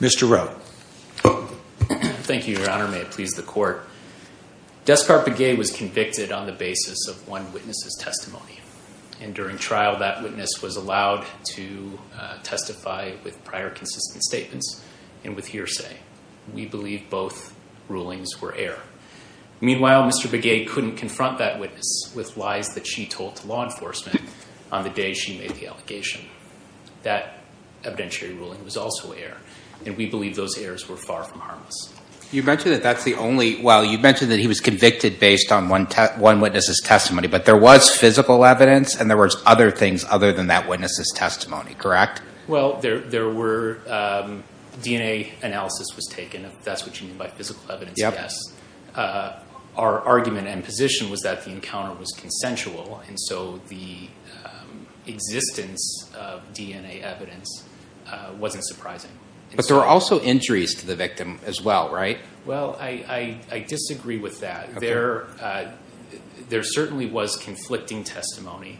Mr. Rowe. Thank you, Your Honor. May it please the court. Descart Begay was convicted on the basis of one witness's testimony, and during trial that witness was allowed to testify with prior consistent statements and with hearsay. We believe both rulings were error. Meanwhile, Mr. Begay couldn't confront that witness with lies that she told to law enforcement on the day she made the allegation. That evidentiary ruling was also error, and we believe those errors were far from harmless. You mentioned that that's the only – well, you mentioned that he was convicted based on one witness's testimony, but there was physical evidence and there was other things other than that witness's testimony, correct? Well, there were – DNA analysis was taken, if that's what you mean by physical evidence, yes. Our argument and position was that the encounter was consensual, and so the existence of DNA evidence wasn't surprising. But there were also injuries to the victim as well, right? Well, I disagree with that. There certainly was conflicting testimony.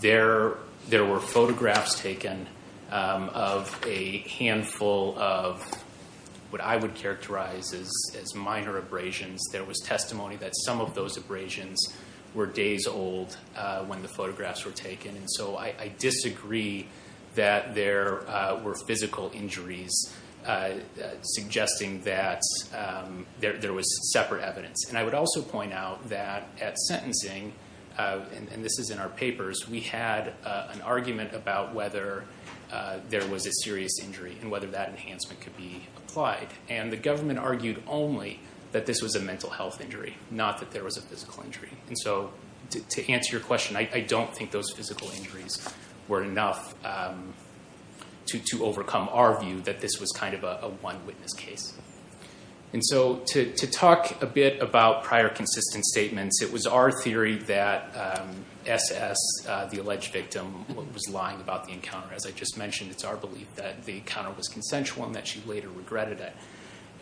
There were photographs taken of a handful of what I would characterize as minor abrasions. There was testimony that some of those abrasions were days old when the photographs were taken, and so I disagree that there were physical injuries suggesting that there was separate evidence. And I would also point out that at sentencing, and this is in our papers, we had an argument about whether there was a serious injury and whether that enhancement could be applied, and the government argued only that this was a mental health injury, not that there was a physical injury. And so to answer your question, I don't think those physical injuries were enough to overcome our view that this was kind of a one witness case. And so to talk a bit about prior consistent statements, it was our theory that SS, the alleged victim, was lying about the encounter. As I just mentioned, it's our belief that the encounter was consensual and that she later regretted it.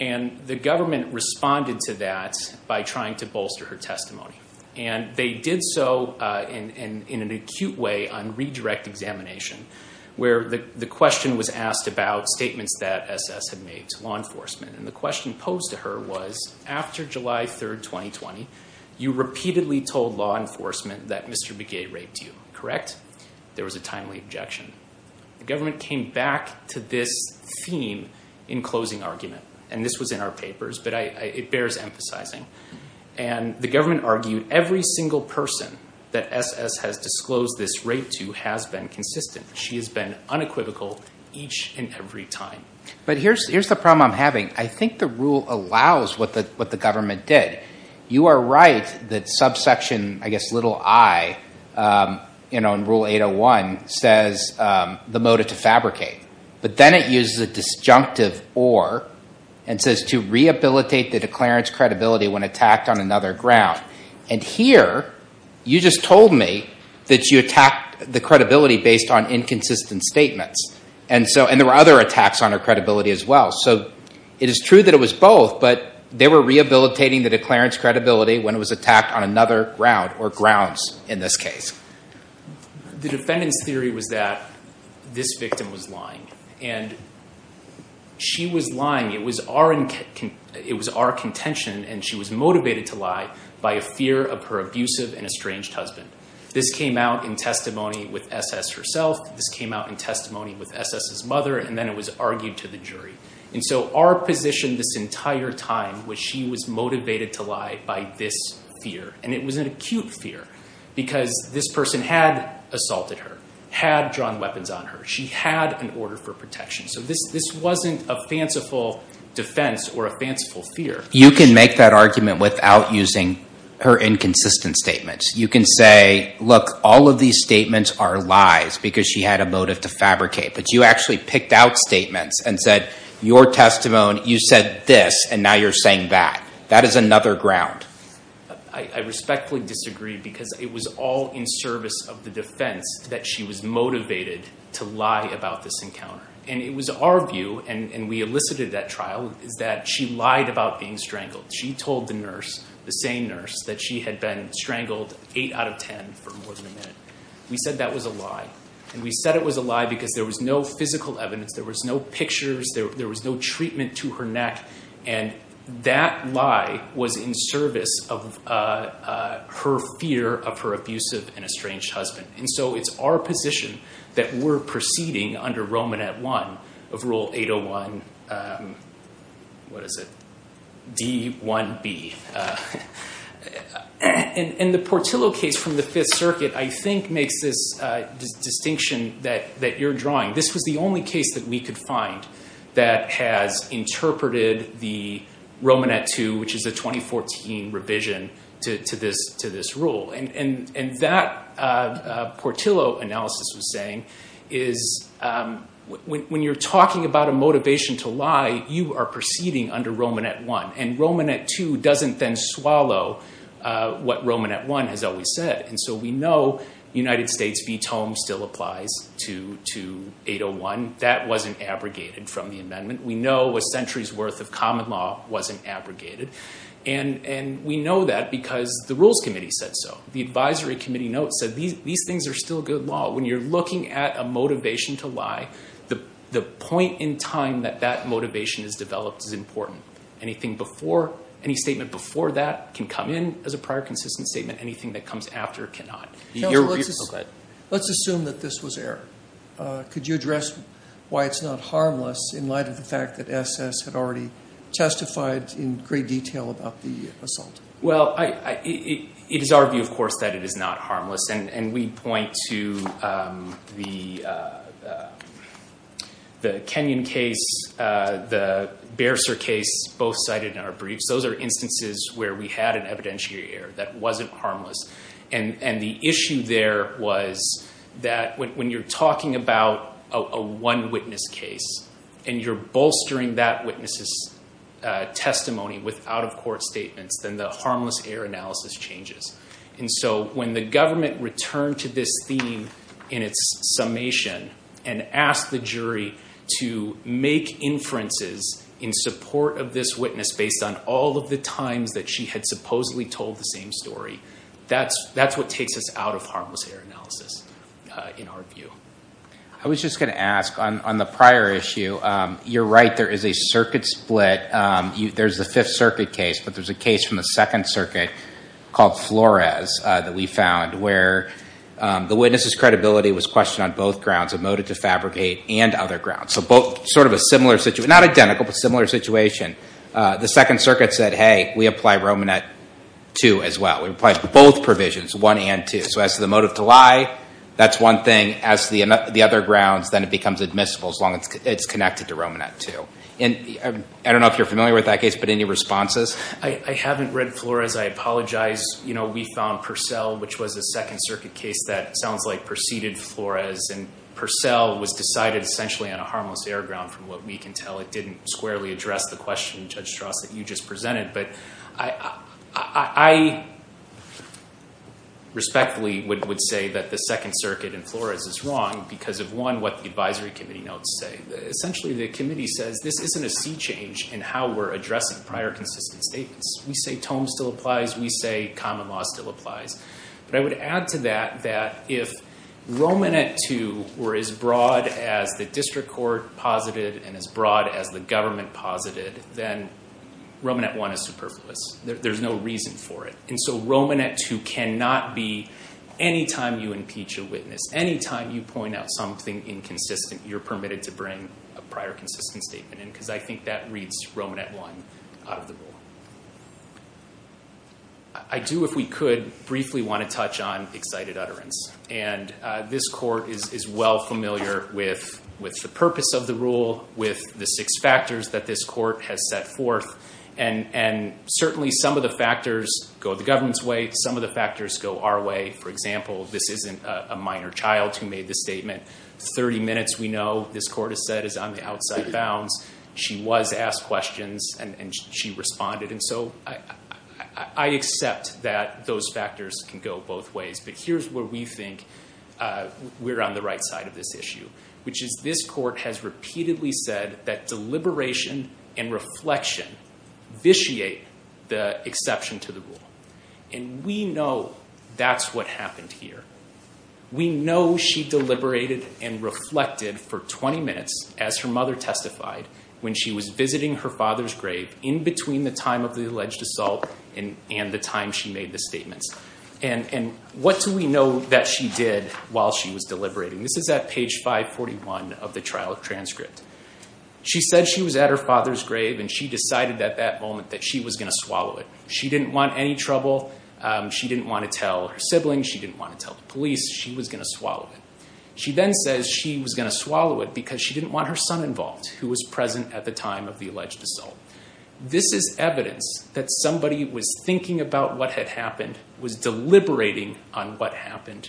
And the government responded to that by trying to bolster her testimony, and they did so in an acute way on redirect examination, where the question was asked about statements that SS had made to law enforcement. And the question posed to her was, after July 3, 2020, you repeatedly told law enforcement that Mr. Begay raped you, correct? There was a timely objection. The government came back to this theme in closing argument, and this was in our papers, but it bears emphasizing. And the government argued every single person that SS has disclosed this rape to has been consistent. She has been unequivocal each and every time. But here's the problem I'm having. I think the rule allows what the government did. You are right that subsection, I guess, little i in Rule 801 says the motive to fabricate. But then it uses a disjunctive or, and says to rehabilitate the declarant's credibility when attacked on another ground. And here, you just told me that you attacked the credibility based on inconsistent statements. And there were other attacks on her credibility as well. So it is true that it was both, but they were rehabilitating the declarant's credibility when it was attacked on another ground, or grounds in this case. The defendant's theory was that this victim was lying, and she was lying. It was our contention, and she was motivated to lie by a fear of her abusive and estranged husband. This came out in testimony with SS herself. This came out in testimony with SS's mother, and then it was argued to the jury. And so our position this entire time was she was motivated to lie by this fear. And it was an acute fear, because this person had assaulted her, had drawn weapons on her. She had an order for protection. So this wasn't a fanciful defense or a fanciful fear. You can make that argument without using her inconsistent statements. You can say, look, all of these statements are lies, because she had a motive to fabricate. But you actually picked out statements and said, your testimony, you said this, and now you're saying that. That is another ground. I respectfully disagree, because it was all in service of the defense that she was motivated to lie about this encounter. And it was our view, and we elicited that trial, is that she lied about being strangled. She told the nurse, the same nurse, that she had been strangled eight out of ten for more than a minute. We said that was a lie. And we said it was a lie because there was no physical evidence. There was no pictures. There was no treatment to her neck. And that lie was in service of her fear of her abusive and estranged husband. And so it's our position that we're proceeding under Romanet I of Rule 801, what is it, D-1B. And the Portillo case from the Fifth Circuit, I think, makes this distinction that you're drawing. This was the only case that we could find that has interpreted the Romanet II, which is a 2014 revision to this rule. And that Portillo analysis was saying is when you're talking about a motivation to lie, you are proceeding under Romanet I. And Romanet II doesn't then swallow what Romanet I has always said. And so we know United States v. Tome still applies to 801. That wasn't abrogated from the amendment. We know a century's worth of common law wasn't abrogated. And we know that because the Rules Committee said so. The Advisory Committee notes said these things are still good law. But when you're looking at a motivation to lie, the point in time that that motivation is developed is important. Anything before, any statement before that can come in as a prior consistent statement. Anything that comes after cannot. Let's assume that this was error. Could you address why it's not harmless in light of the fact that SS had already testified in great detail about the assault? Well, it is our view, of course, that it is not harmless. And we point to the Kenyon case, the Bearcer case, both cited in our briefs. Those are instances where we had an evidentiary error that wasn't harmless. And the issue there was that when you're talking about a one witness case and you're bolstering that witness's testimony with out-of-court statements, then the harmless error analysis changes. And so when the government returned to this theme in its summation and asked the jury to make inferences in support of this witness based on all of the times that she had supposedly told the same story, that's what takes us out of harmless error analysis in our view. I was just going to ask, on the prior issue, you're right, there is a circuit split. There's the Fifth Circuit case, but there's a case from the Second Circuit called Flores that we found where the witness's credibility was questioned on both grounds, a motive to fabricate and other grounds. So sort of a similar situation, not identical, but similar situation. The Second Circuit said, hey, we apply Romanet 2 as well. We apply both provisions, 1 and 2. So as to the motive to lie, that's one thing. As to the other grounds, then it becomes admissible as long as it's connected to Romanet 2. And I don't know if you're familiar with that case, but any responses? I haven't read Flores. I apologize. You know, we found Purcell, which was a Second Circuit case that sounds like preceded Flores. And Purcell was decided essentially on a harmless error ground from what we can tell. It didn't squarely address the question, Judge Strauss, that you just presented. But I respectfully would say that the Second Circuit in Flores is wrong because of, one, what the advisory committee notes say. Essentially, the committee says this isn't a sea change in how we're addressing prior consistent statements. We say tome still applies. We say common law still applies. But I would add to that that if Romanet 2 were as broad as the district court posited and as broad as the government posited, then Romanet 1 is superfluous. There's no reason for it. And so Romanet 2 cannot be, any time you impeach a witness, any time you point out something inconsistent, you're permitted to bring a prior consistent statement in because I think that reads Romanet 1 out of the rule. I do, if we could, briefly want to touch on excited utterance. And this court is well familiar with the purpose of the rule, with the six factors that this court has set forth. And certainly some of the factors go the government's way. Some of the factors go our way. For example, this isn't a minor child who made this statement. 30 minutes, we know, this court has said, is on the outside bounds. She was asked questions and she responded. And so I accept that those factors can go both ways. But here's where we think we're on the right side of this issue, which is this court has repeatedly said that deliberation and reflection vitiate the exception to the rule. And we know that's what happened here. We know she deliberated and reflected for 20 minutes, as her mother testified, when she was visiting her father's grave in between the time of the alleged assault and the time she made the statements. And what do we know that she did while she was deliberating? This is at page 541 of the trial transcript. She said she was at her father's grave and she decided at that moment that she was going to swallow it. She didn't want any trouble. She didn't want to tell her siblings. She didn't want to tell the police. She was going to swallow it. She then says she was going to swallow it because she didn't want her son involved, who was present at the time of the alleged assault. This is evidence that somebody was thinking about what had happened, was deliberating on what happened,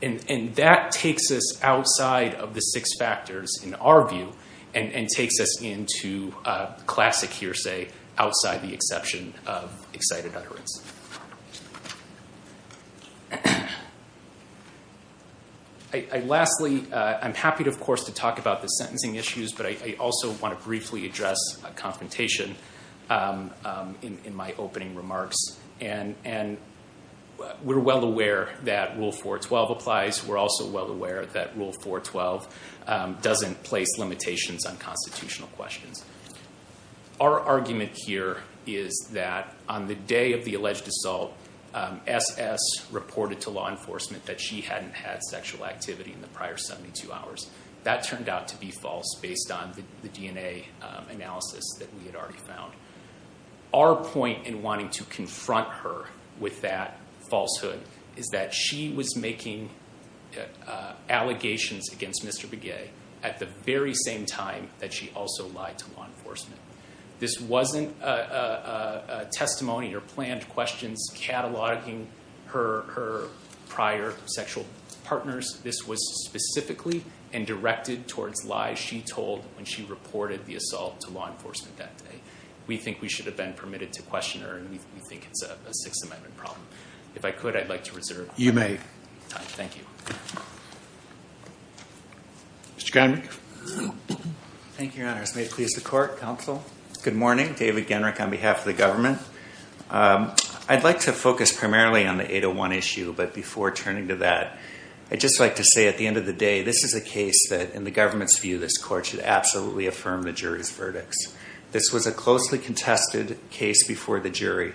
and that takes us outside of the six factors, in our view, and takes us into classic hearsay outside the exception of excited utterance. Lastly, I'm happy, of course, to talk about the sentencing issues, but I also want to briefly address a confrontation in my opening remarks. And we're well aware that Rule 412 applies. We're also well aware that Rule 412 doesn't place limitations on constitutional questions. Our argument here is that on the day of the alleged assault, SS reported to law enforcement that she hadn't had sexual activity in the prior 72 hours. That turned out to be false based on the DNA analysis that we had already found. Our point in wanting to confront her with that falsehood is that she was making allegations against Mr. Begay at the very same time that she also lied to law enforcement. This wasn't a testimony or planned questions cataloging her prior sexual partners. This was specifically and directed towards lies she told when she reported the assault to law enforcement that day. We think we should have been permitted to question her, and we think it's a Sixth Amendment problem. If I could, I'd like to reserve time. Mr. Genrich. Thank you, Your Honor. May it please the court, counsel? Good morning. David Genrich on behalf of the government. I'd like to focus primarily on the 801 issue, but before turning to that, I'd just like to say at the end of the day, this is a case that in the government's view, this court should absolutely affirm the jury's verdicts. This was a closely contested case before the jury.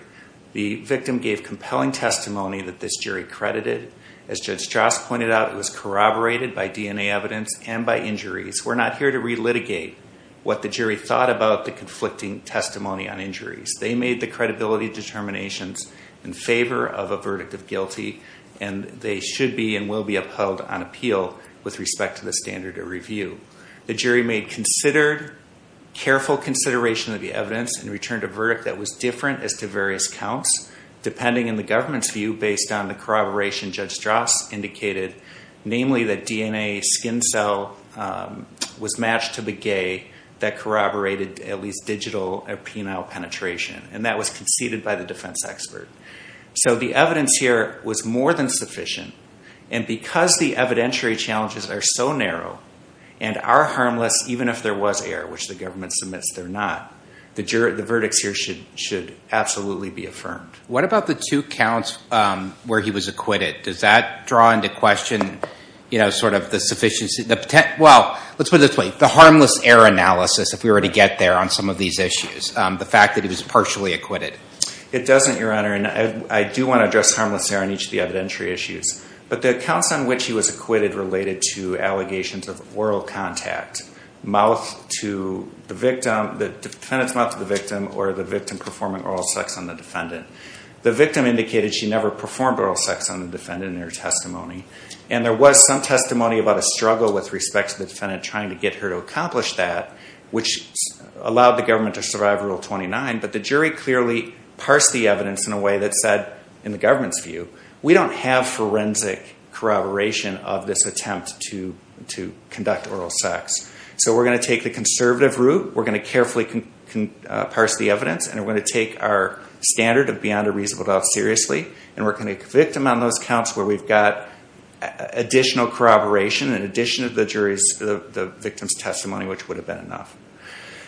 The victim gave compelling testimony that this jury credited. As Judge Strauss pointed out, it was corroborated by DNA evidence and by injuries. We're not here to relitigate what the jury thought about the conflicting testimony on injuries. They made the credibility determinations in favor of a verdict of guilty, and they should be and will be upheld on appeal with respect to the standard of review. The jury made careful consideration of the evidence and returned a verdict that was different as to various counts. Depending on the government's view, based on the corroboration, Judge Strauss indicated namely that DNA skin cell was matched to the gay that corroborated at least digital penile penetration, and that was conceded by the defense expert. So the evidence here was more than sufficient, and because the evidentiary challenges are so narrow and are harmless even if there was error, which the government submits they're not, the verdicts here should absolutely be affirmed. What about the two counts where he was acquitted? Does that draw into question the harmless error analysis, if we were to get there, on some of these issues, the fact that he was partially acquitted? It doesn't, Your Honor, and I do want to address harmless error in each of the evidentiary issues, but the accounts on which he was acquitted related to allegations of oral contact, mouth to the victim, the defendant's mouth to the victim, or the victim performing oral sex on the defendant. The victim indicated she never performed oral sex on the defendant in her testimony, and there was some testimony about a struggle with respect to the defendant trying to get her to accomplish that, which allowed the government to survive Rule 29, but the jury clearly parsed the evidence in a way that said, in the government's view, we don't have forensic corroboration of this attempt to conduct oral sex. So we're going to take the conservative route, we're going to carefully parse the evidence, and we're going to take our standard of beyond a reasonable doubt seriously, and we're going to convict him on those counts where we've got additional corroboration in addition to the victim's testimony, which would have been enough.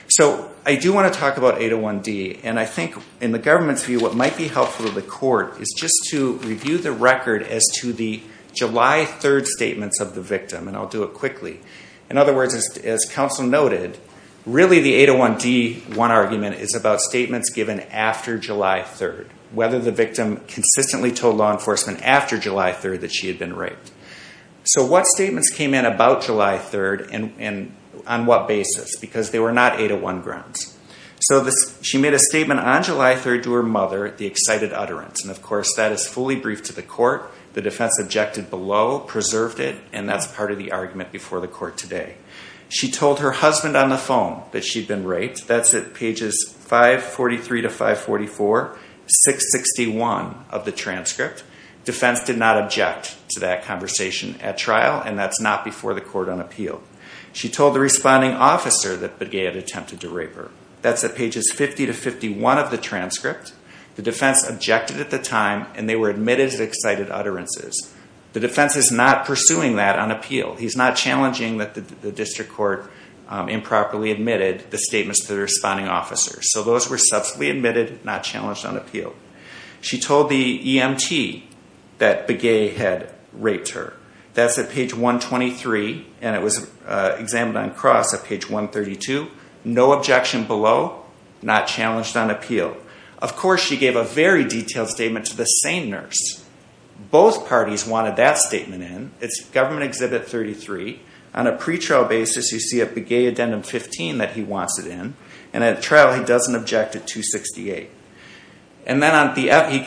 So I do want to talk about 801D, and I think in the government's view, what might be helpful to the court is just to review the record as to the July 3rd statements of the victim, and I'll do it quickly. In other words, as counsel noted, really the 801D1 argument is about statements given after July 3rd, whether the victim consistently told law enforcement after July 3rd that she had been raped. So what statements came in about July 3rd, and on what basis? Because they were not 801 grounds. So she made a statement on July 3rd to her mother, the excited utterance, and of course that is fully briefed to the court. The defense objected below, preserved it, and that's part of the argument before the court today. She told her husband on the phone that she'd been raped. That's at pages 543 to 544, 661 of the transcript. Defense did not object to that conversation at trial, and that's not before the court on appeal. She told the responding officer that Begay had attempted to rape her. That's at pages 50 to 51 of the transcript. The defense objected at the time, and they were admitted as excited utterances. The defense is not pursuing that on appeal. He's not challenging that the district court improperly admitted the statements to the responding officer. So those were subsequently admitted, not challenged on appeal. She told the EMT that Begay had raped her. That's at page 123, and it was examined on cross at page 132. No objection below, not challenged on appeal. Of course, she gave a very detailed statement to the same nurse. Both parties wanted that statement in. It's Government Exhibit 33. On a pretrial basis, you see a Begay Addendum 15 that he wants it in, and at trial he doesn't object to 268.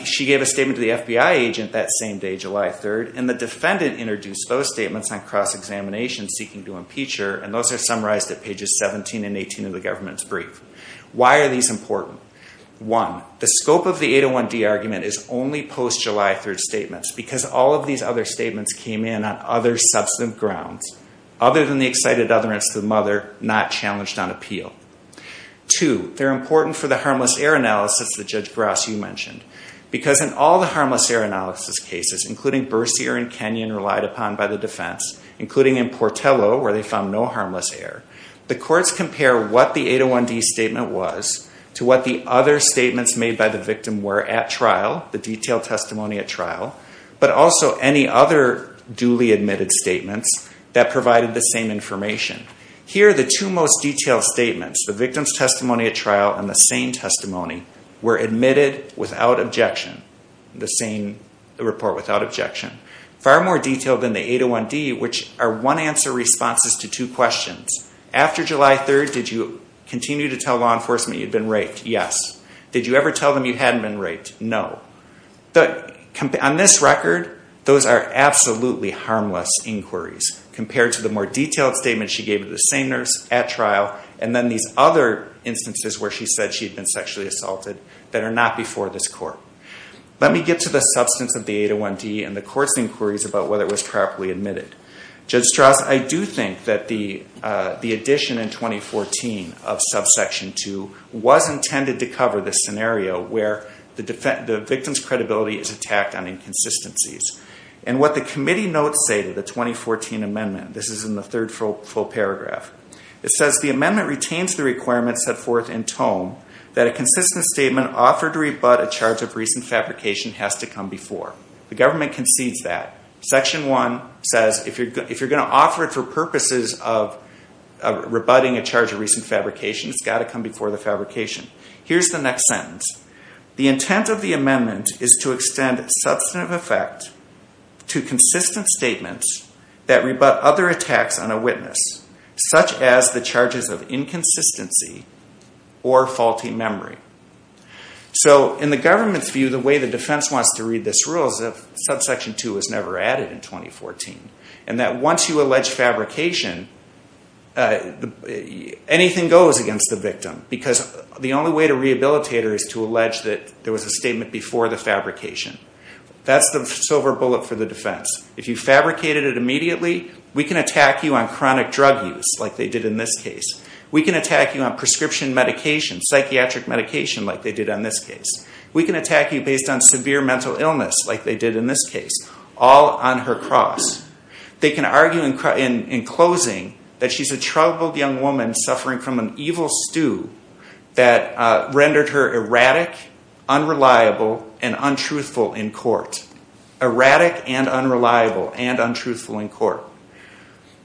She gave a statement to the FBI agent that same day, July 3rd, and the defendant introduced those statements on cross-examination seeking to impeach her, and those are summarized at pages 17 and 18 of the government's brief. Why are these important? One, the scope of the 801D argument is only post-July 3rd statements, because all of these other statements came in on other substantive grounds, other than the excited utterance to the mother, not challenged on appeal. Two, they're important for the harmless error analysis that Judge Grasso mentioned, because in all the harmless error analysis cases, including Bercier and Kenyon relied upon by the defense, including in Portillo where they found no harmless error, the courts compare what the 801D statement was to what the other statements made by the victim were at trial, the detailed testimony at trial, but also any other duly admitted statements that provided the same information. Here, the two most detailed statements, the victim's testimony at trial and the same testimony, were admitted without objection, the same report without objection. Far more detailed than the 801D, which are one answer responses to two questions. After July 3rd, did you continue to tell law enforcement you'd been raped? Yes. Did you ever tell them you hadn't been raped? No. On this record, those are absolutely harmless inquiries compared to the more detailed statements she gave to the same nurse at trial, and then these other instances where she said she'd been sexually assaulted that are not before this court. Let me get to the substance of the 801D and the court's inquiries about whether it was properly admitted. Judge Strauss, I do think that the addition in 2014 of subsection 2 was intended to cover the scenario where the victim's credibility is attacked on inconsistencies. And what the committee notes say to the 2014 amendment, this is in the third full paragraph, it says, the amendment retains the requirements set forth in tome that a consistent statement offered to rebut a charge of recent fabrication has to come before. The government concedes that. Section 1 says if you're going to offer it for purposes of rebutting a charge of recent fabrication, it's got to come before the fabrication. Here's the next sentence. The intent of the amendment is to extend substantive effect to consistent statements that rebut other attacks on a witness, such as the charges of inconsistency or faulty memory. So in the government's view, the way the defense wants to read this rule is that subsection 2 was never added in 2014. And that once you allege fabrication, anything goes against the victim. Because the only way to rehabilitate her is to allege that there was a statement before the fabrication. That's the silver bullet for the defense. If you fabricated it immediately, we can attack you on chronic drug use, like they did in this case. We can attack you on prescription medication, psychiatric medication, like they did in this case. We can attack you based on severe mental illness, like they did in this case. All on her cross. They can argue in closing that she's a troubled young woman suffering from an evil stew that rendered her erratic, unreliable, and untruthful in court. Erratic and unreliable and untruthful in court.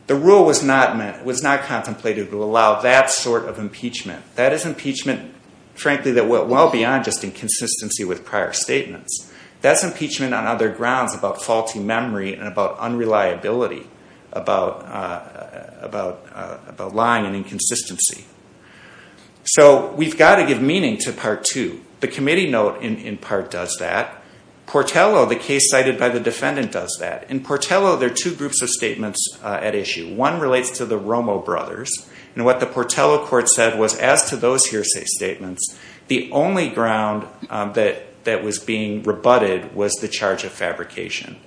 The rule was not contemplated to allow that sort of impeachment. That is impeachment, frankly, that went well beyond just inconsistency with prior statements. That's impeachment on other grounds about faulty memory and about unreliability, about lying and inconsistency. So we've got to give meaning to Part 2. The committee note in part does that. Portello, the case cited by the defendant, does that. In Portello, there are two groups of statements at issue. One relates to the Romo brothers. And what the Portello court said was as to those hearsay statements, the only ground that was being rebutted was the charge of fabrication.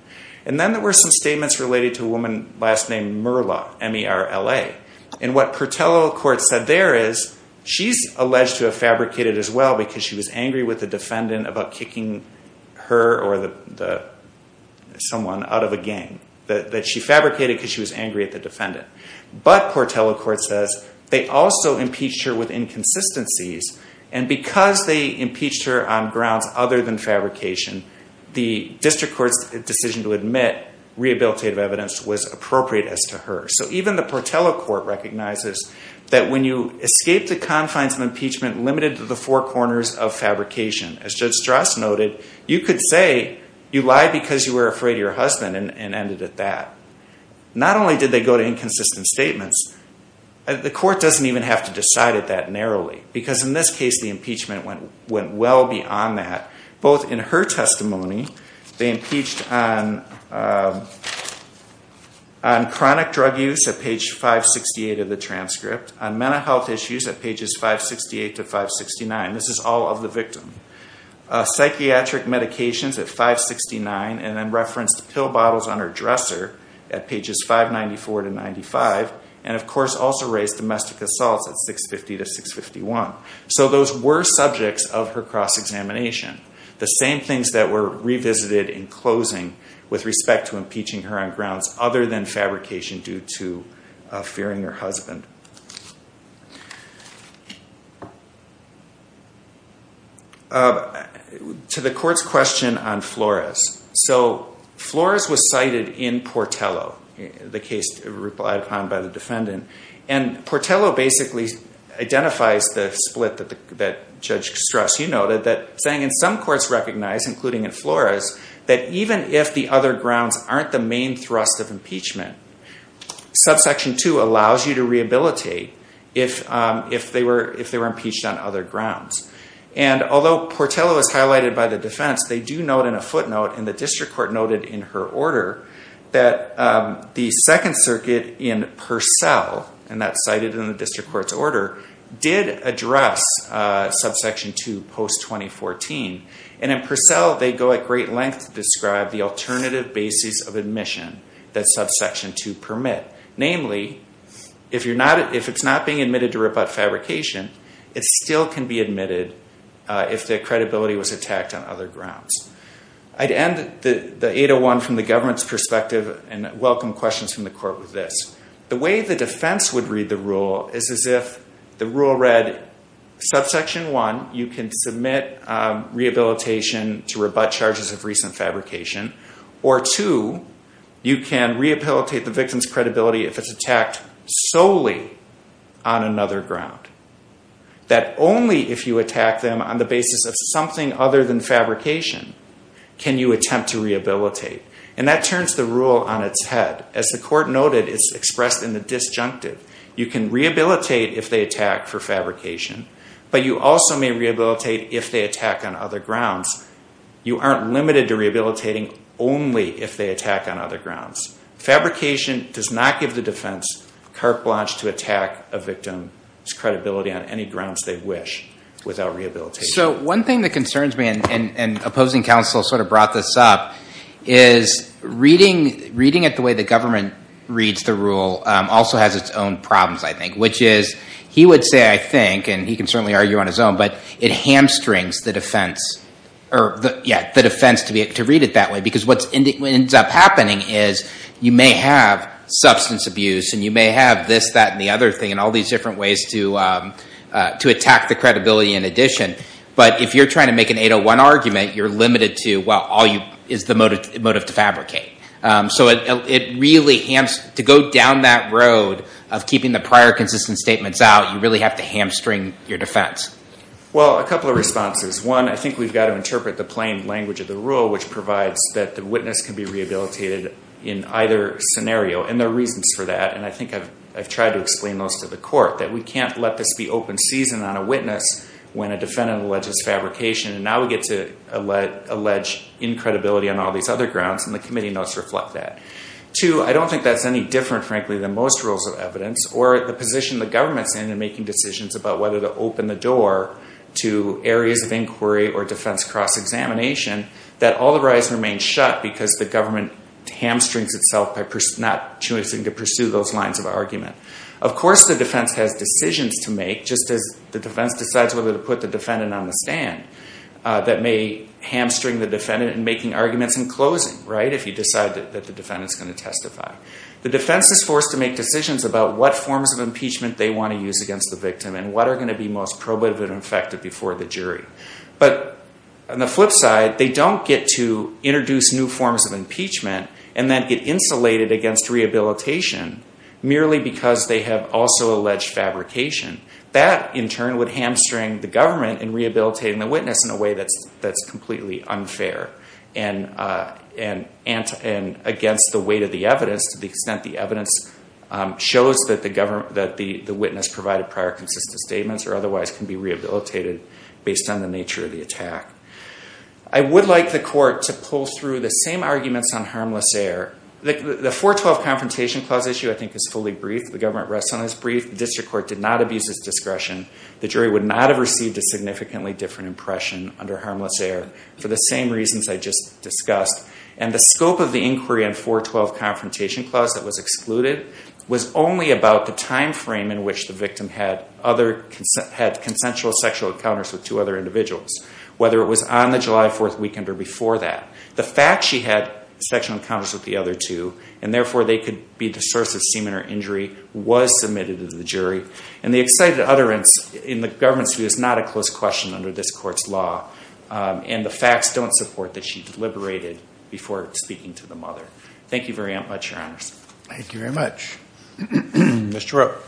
And then there were some statements related to a woman last named Merla, M-E-R-L-A. And what Portello court said there is she's alleged to have fabricated as well because she was angry with the defendant about kicking her or someone out of a gang. That she fabricated because she was angry at the defendant. But Portello court says they also impeached her with inconsistencies. And because they impeached her on grounds other than fabrication, the district court's decision to admit rehabilitative evidence was appropriate as to her. So even the Portello court recognizes that when you escape the confines of impeachment limited to the four corners of fabrication. As Judge Strauss noted, you could say you lie because you were afraid of your husband and ended at that. Not only did they go to inconsistent statements, the court doesn't even have to decide it that narrowly. Because in this case the impeachment went well beyond that. Both in her testimony, they impeached on chronic drug use at page 568 of the transcript. On mental health issues at pages 568 to 569. This is all of the victim. Psychiatric medications at 569 and then referenced pill bottles on her dresser at pages 594 to 95. And of course also raised domestic assaults at 650 to 651. So those were subjects of her cross-examination. The same things that were revisited in closing with respect to impeaching her on grounds other than fabrication due to fearing her husband. To the court's question on Flores. Flores was cited in Portello, the case replied upon by the defendant. And Portello basically identifies the split that Judge Strauss noted. Saying in some courts recognized, including in Flores, that even if the other grounds aren't the main thrust of impeachment, subsection 2 allows you to rehabilitate if they were impeached on other grounds. And although Portello is highlighted by the defense, they do note in a footnote, and the district court noted in her order, that the Second Circuit in Purcell, and that's cited in the district court's order, did address subsection 2 post-2014. And in Purcell, they go at great length to describe the alternative basis of admission that subsection 2 permit. Namely, if it's not being admitted to rebut fabrication, it still can be admitted if the credibility was attacked on other grounds. I'd end the 801 from the government's perspective and welcome questions from the court with this. The way the defense would read the rule is as if the rule read, subsection 1, you can submit rehabilitation to rebut charges of recent fabrication. Or 2, you can rehabilitate the victim's credibility if it's attacked solely on another ground. That only if you attack them on the basis of something other than fabrication can you attempt to rehabilitate. And that turns the rule on its head. As the court noted, it's expressed in the disjunctive. You can rehabilitate if they attack for fabrication, but you also may rehabilitate if they attack on other grounds. You aren't limited to rehabilitating only if they attack on other grounds. Fabrication does not give the defense carte blanche to attack a victim's credibility on any grounds they wish without rehabilitation. So one thing that concerns me, and opposing counsel sort of brought this up, is reading it the way the government reads the rule also has its own problems, I think. Which is, he would say, I think, and he can certainly argue on his own, but it hamstrings the defense to read it that way. Because what ends up happening is you may have substance abuse and you may have this, that, and the other thing and all these different ways to attack the credibility in addition. But if you're trying to make an 801 argument, you're limited to, well, all you, is the motive to fabricate. So it really, to go down that road of keeping the prior consistent statements out, you really have to hamstring your defense. Well, a couple of responses. One, I think we've got to interpret the plain language of the rule, which provides that the witness can be rehabilitated in either scenario. And there are reasons for that, and I think I've tried to explain those to the court. That we can't let this be open season on a witness when a defendant alleges fabrication. And now we get to allege incredibility on all these other grounds, and the committee notes reflect that. Two, I don't think that's any different, frankly, than most rules of evidence. Or the position the government's in in making decisions about whether to open the door to areas of inquiry or defense cross-examination. That all the rise remains shut because the government hamstrings itself by not choosing to pursue those lines of argument. Of course the defense has decisions to make, just as the defense decides whether to put the defendant on the stand. That may hamstring the defendant in making arguments in closing, right? If you decide that the defendant's going to testify. The defense is forced to make decisions about what forms of impeachment they want to use against the victim, and what are going to be most probative and effective before the jury. But, on the flip side, they don't get to introduce new forms of impeachment, and then get insulated against rehabilitation merely because they have also alleged fabrication. That, in turn, would hamstring the government in rehabilitating the witness in a way that's completely unfair. And against the weight of the evidence, to the extent the evidence shows that the witness provided prior consistent statements, or otherwise can be rehabilitated based on the nature of the attack. I would like the court to pull through the same arguments on harmless air. The 412 Confrontation Clause issue, I think, is fully briefed. The government rests on this brief. The district court did not abuse its discretion. The jury would not have received a significantly different impression under harmless air for the same reasons I just discussed. And the scope of the inquiry on 412 Confrontation Clause that was excluded was only about the time frame in which the victim had consensual sexual encounters with two other individuals. Whether it was on the July 4th weekend or before that. The fact she had sexual encounters with the other two, and therefore they could be the source of semen or injury, was submitted to the jury. And the excited utterance in the government's view is not a close question under this court's law. And the facts don't support that she deliberated before speaking to the mother. Thank you very much, Your Honors. Thank you very much. Mr. Rowe.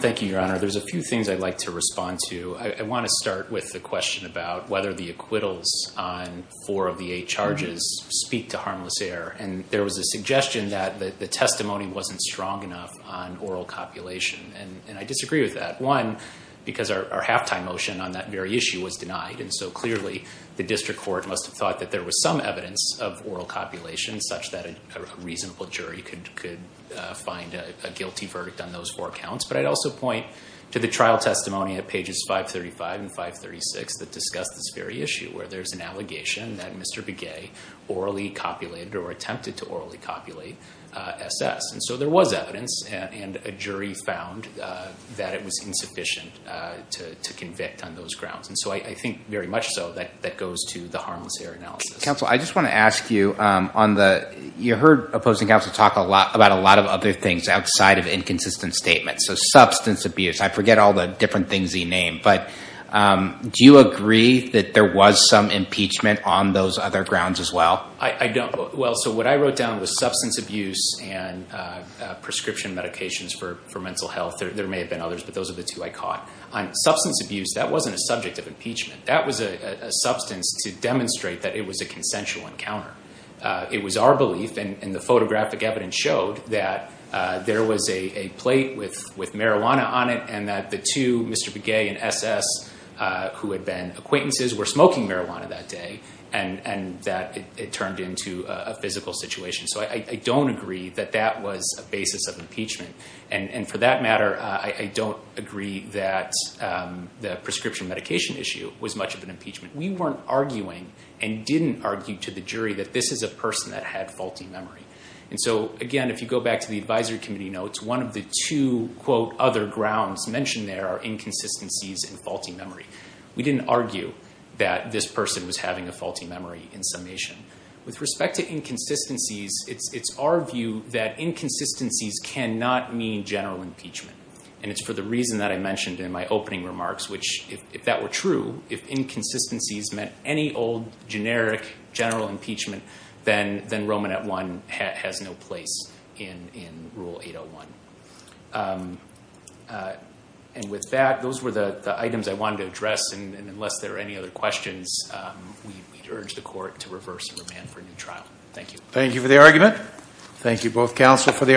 Thank you, Your Honor. There's a few things I'd like to respond to. I want to start with the question about whether the acquittals on four of the eight charges speak to harmless air. And there was a suggestion that the testimony wasn't strong enough on oral copulation. And I disagree with that. One, because our halftime motion on that very issue was denied. And so clearly the district court must have thought that there was some evidence of oral copulation, such that a reasonable jury could find a guilty verdict on those four counts. But I'd also point to the trial testimony at pages 535 and 536 that discussed this very issue, where there's an allegation that Mr. Begay orally copulated or attempted to orally copulate SS. And so there was evidence, and a jury found that it was insufficient to convict on those grounds. And so I think very much so that that goes to the harmless air analysis. Counsel, I just want to ask you, you heard opposing counsel talk about a lot of other things outside of inconsistent statements. So substance abuse, I forget all the different things he named. But do you agree that there was some impeachment on those other grounds as well? I don't. Well, so what I wrote down was substance abuse and prescription medications for mental health. There may have been others, but those are the two I caught. Substance abuse, that wasn't a subject of impeachment. That was a substance to demonstrate that it was a consensual encounter. It was our belief, and the photographic evidence showed, that there was a plate with marijuana on it and that the two, Mr. Begay and SS, who had been acquaintances, were smoking marijuana that day, and that it turned into a physical situation. So I don't agree that that was a basis of impeachment. And for that matter, I don't agree that the prescription medication issue was much of an impeachment. We weren't arguing and didn't argue to the jury that this is a person that had faulty memory. And so, again, if you go back to the advisory committee notes, one of the two, quote, other grounds mentioned there are inconsistencies and faulty memory. We didn't argue that this person was having a faulty memory in summation. With respect to inconsistencies, it's our view that inconsistencies cannot mean general impeachment. And it's for the reason that I mentioned in my opening remarks, which, if that were true, if inconsistencies meant any old, generic, general impeachment, then Roman at one has no place in Rule 801. And with that, those were the items I wanted to address. And unless there are any other questions, we urge the court to reverse and remand for a new trial. Thank you. Thank you for the argument. Thank you, both counsel, for the argument.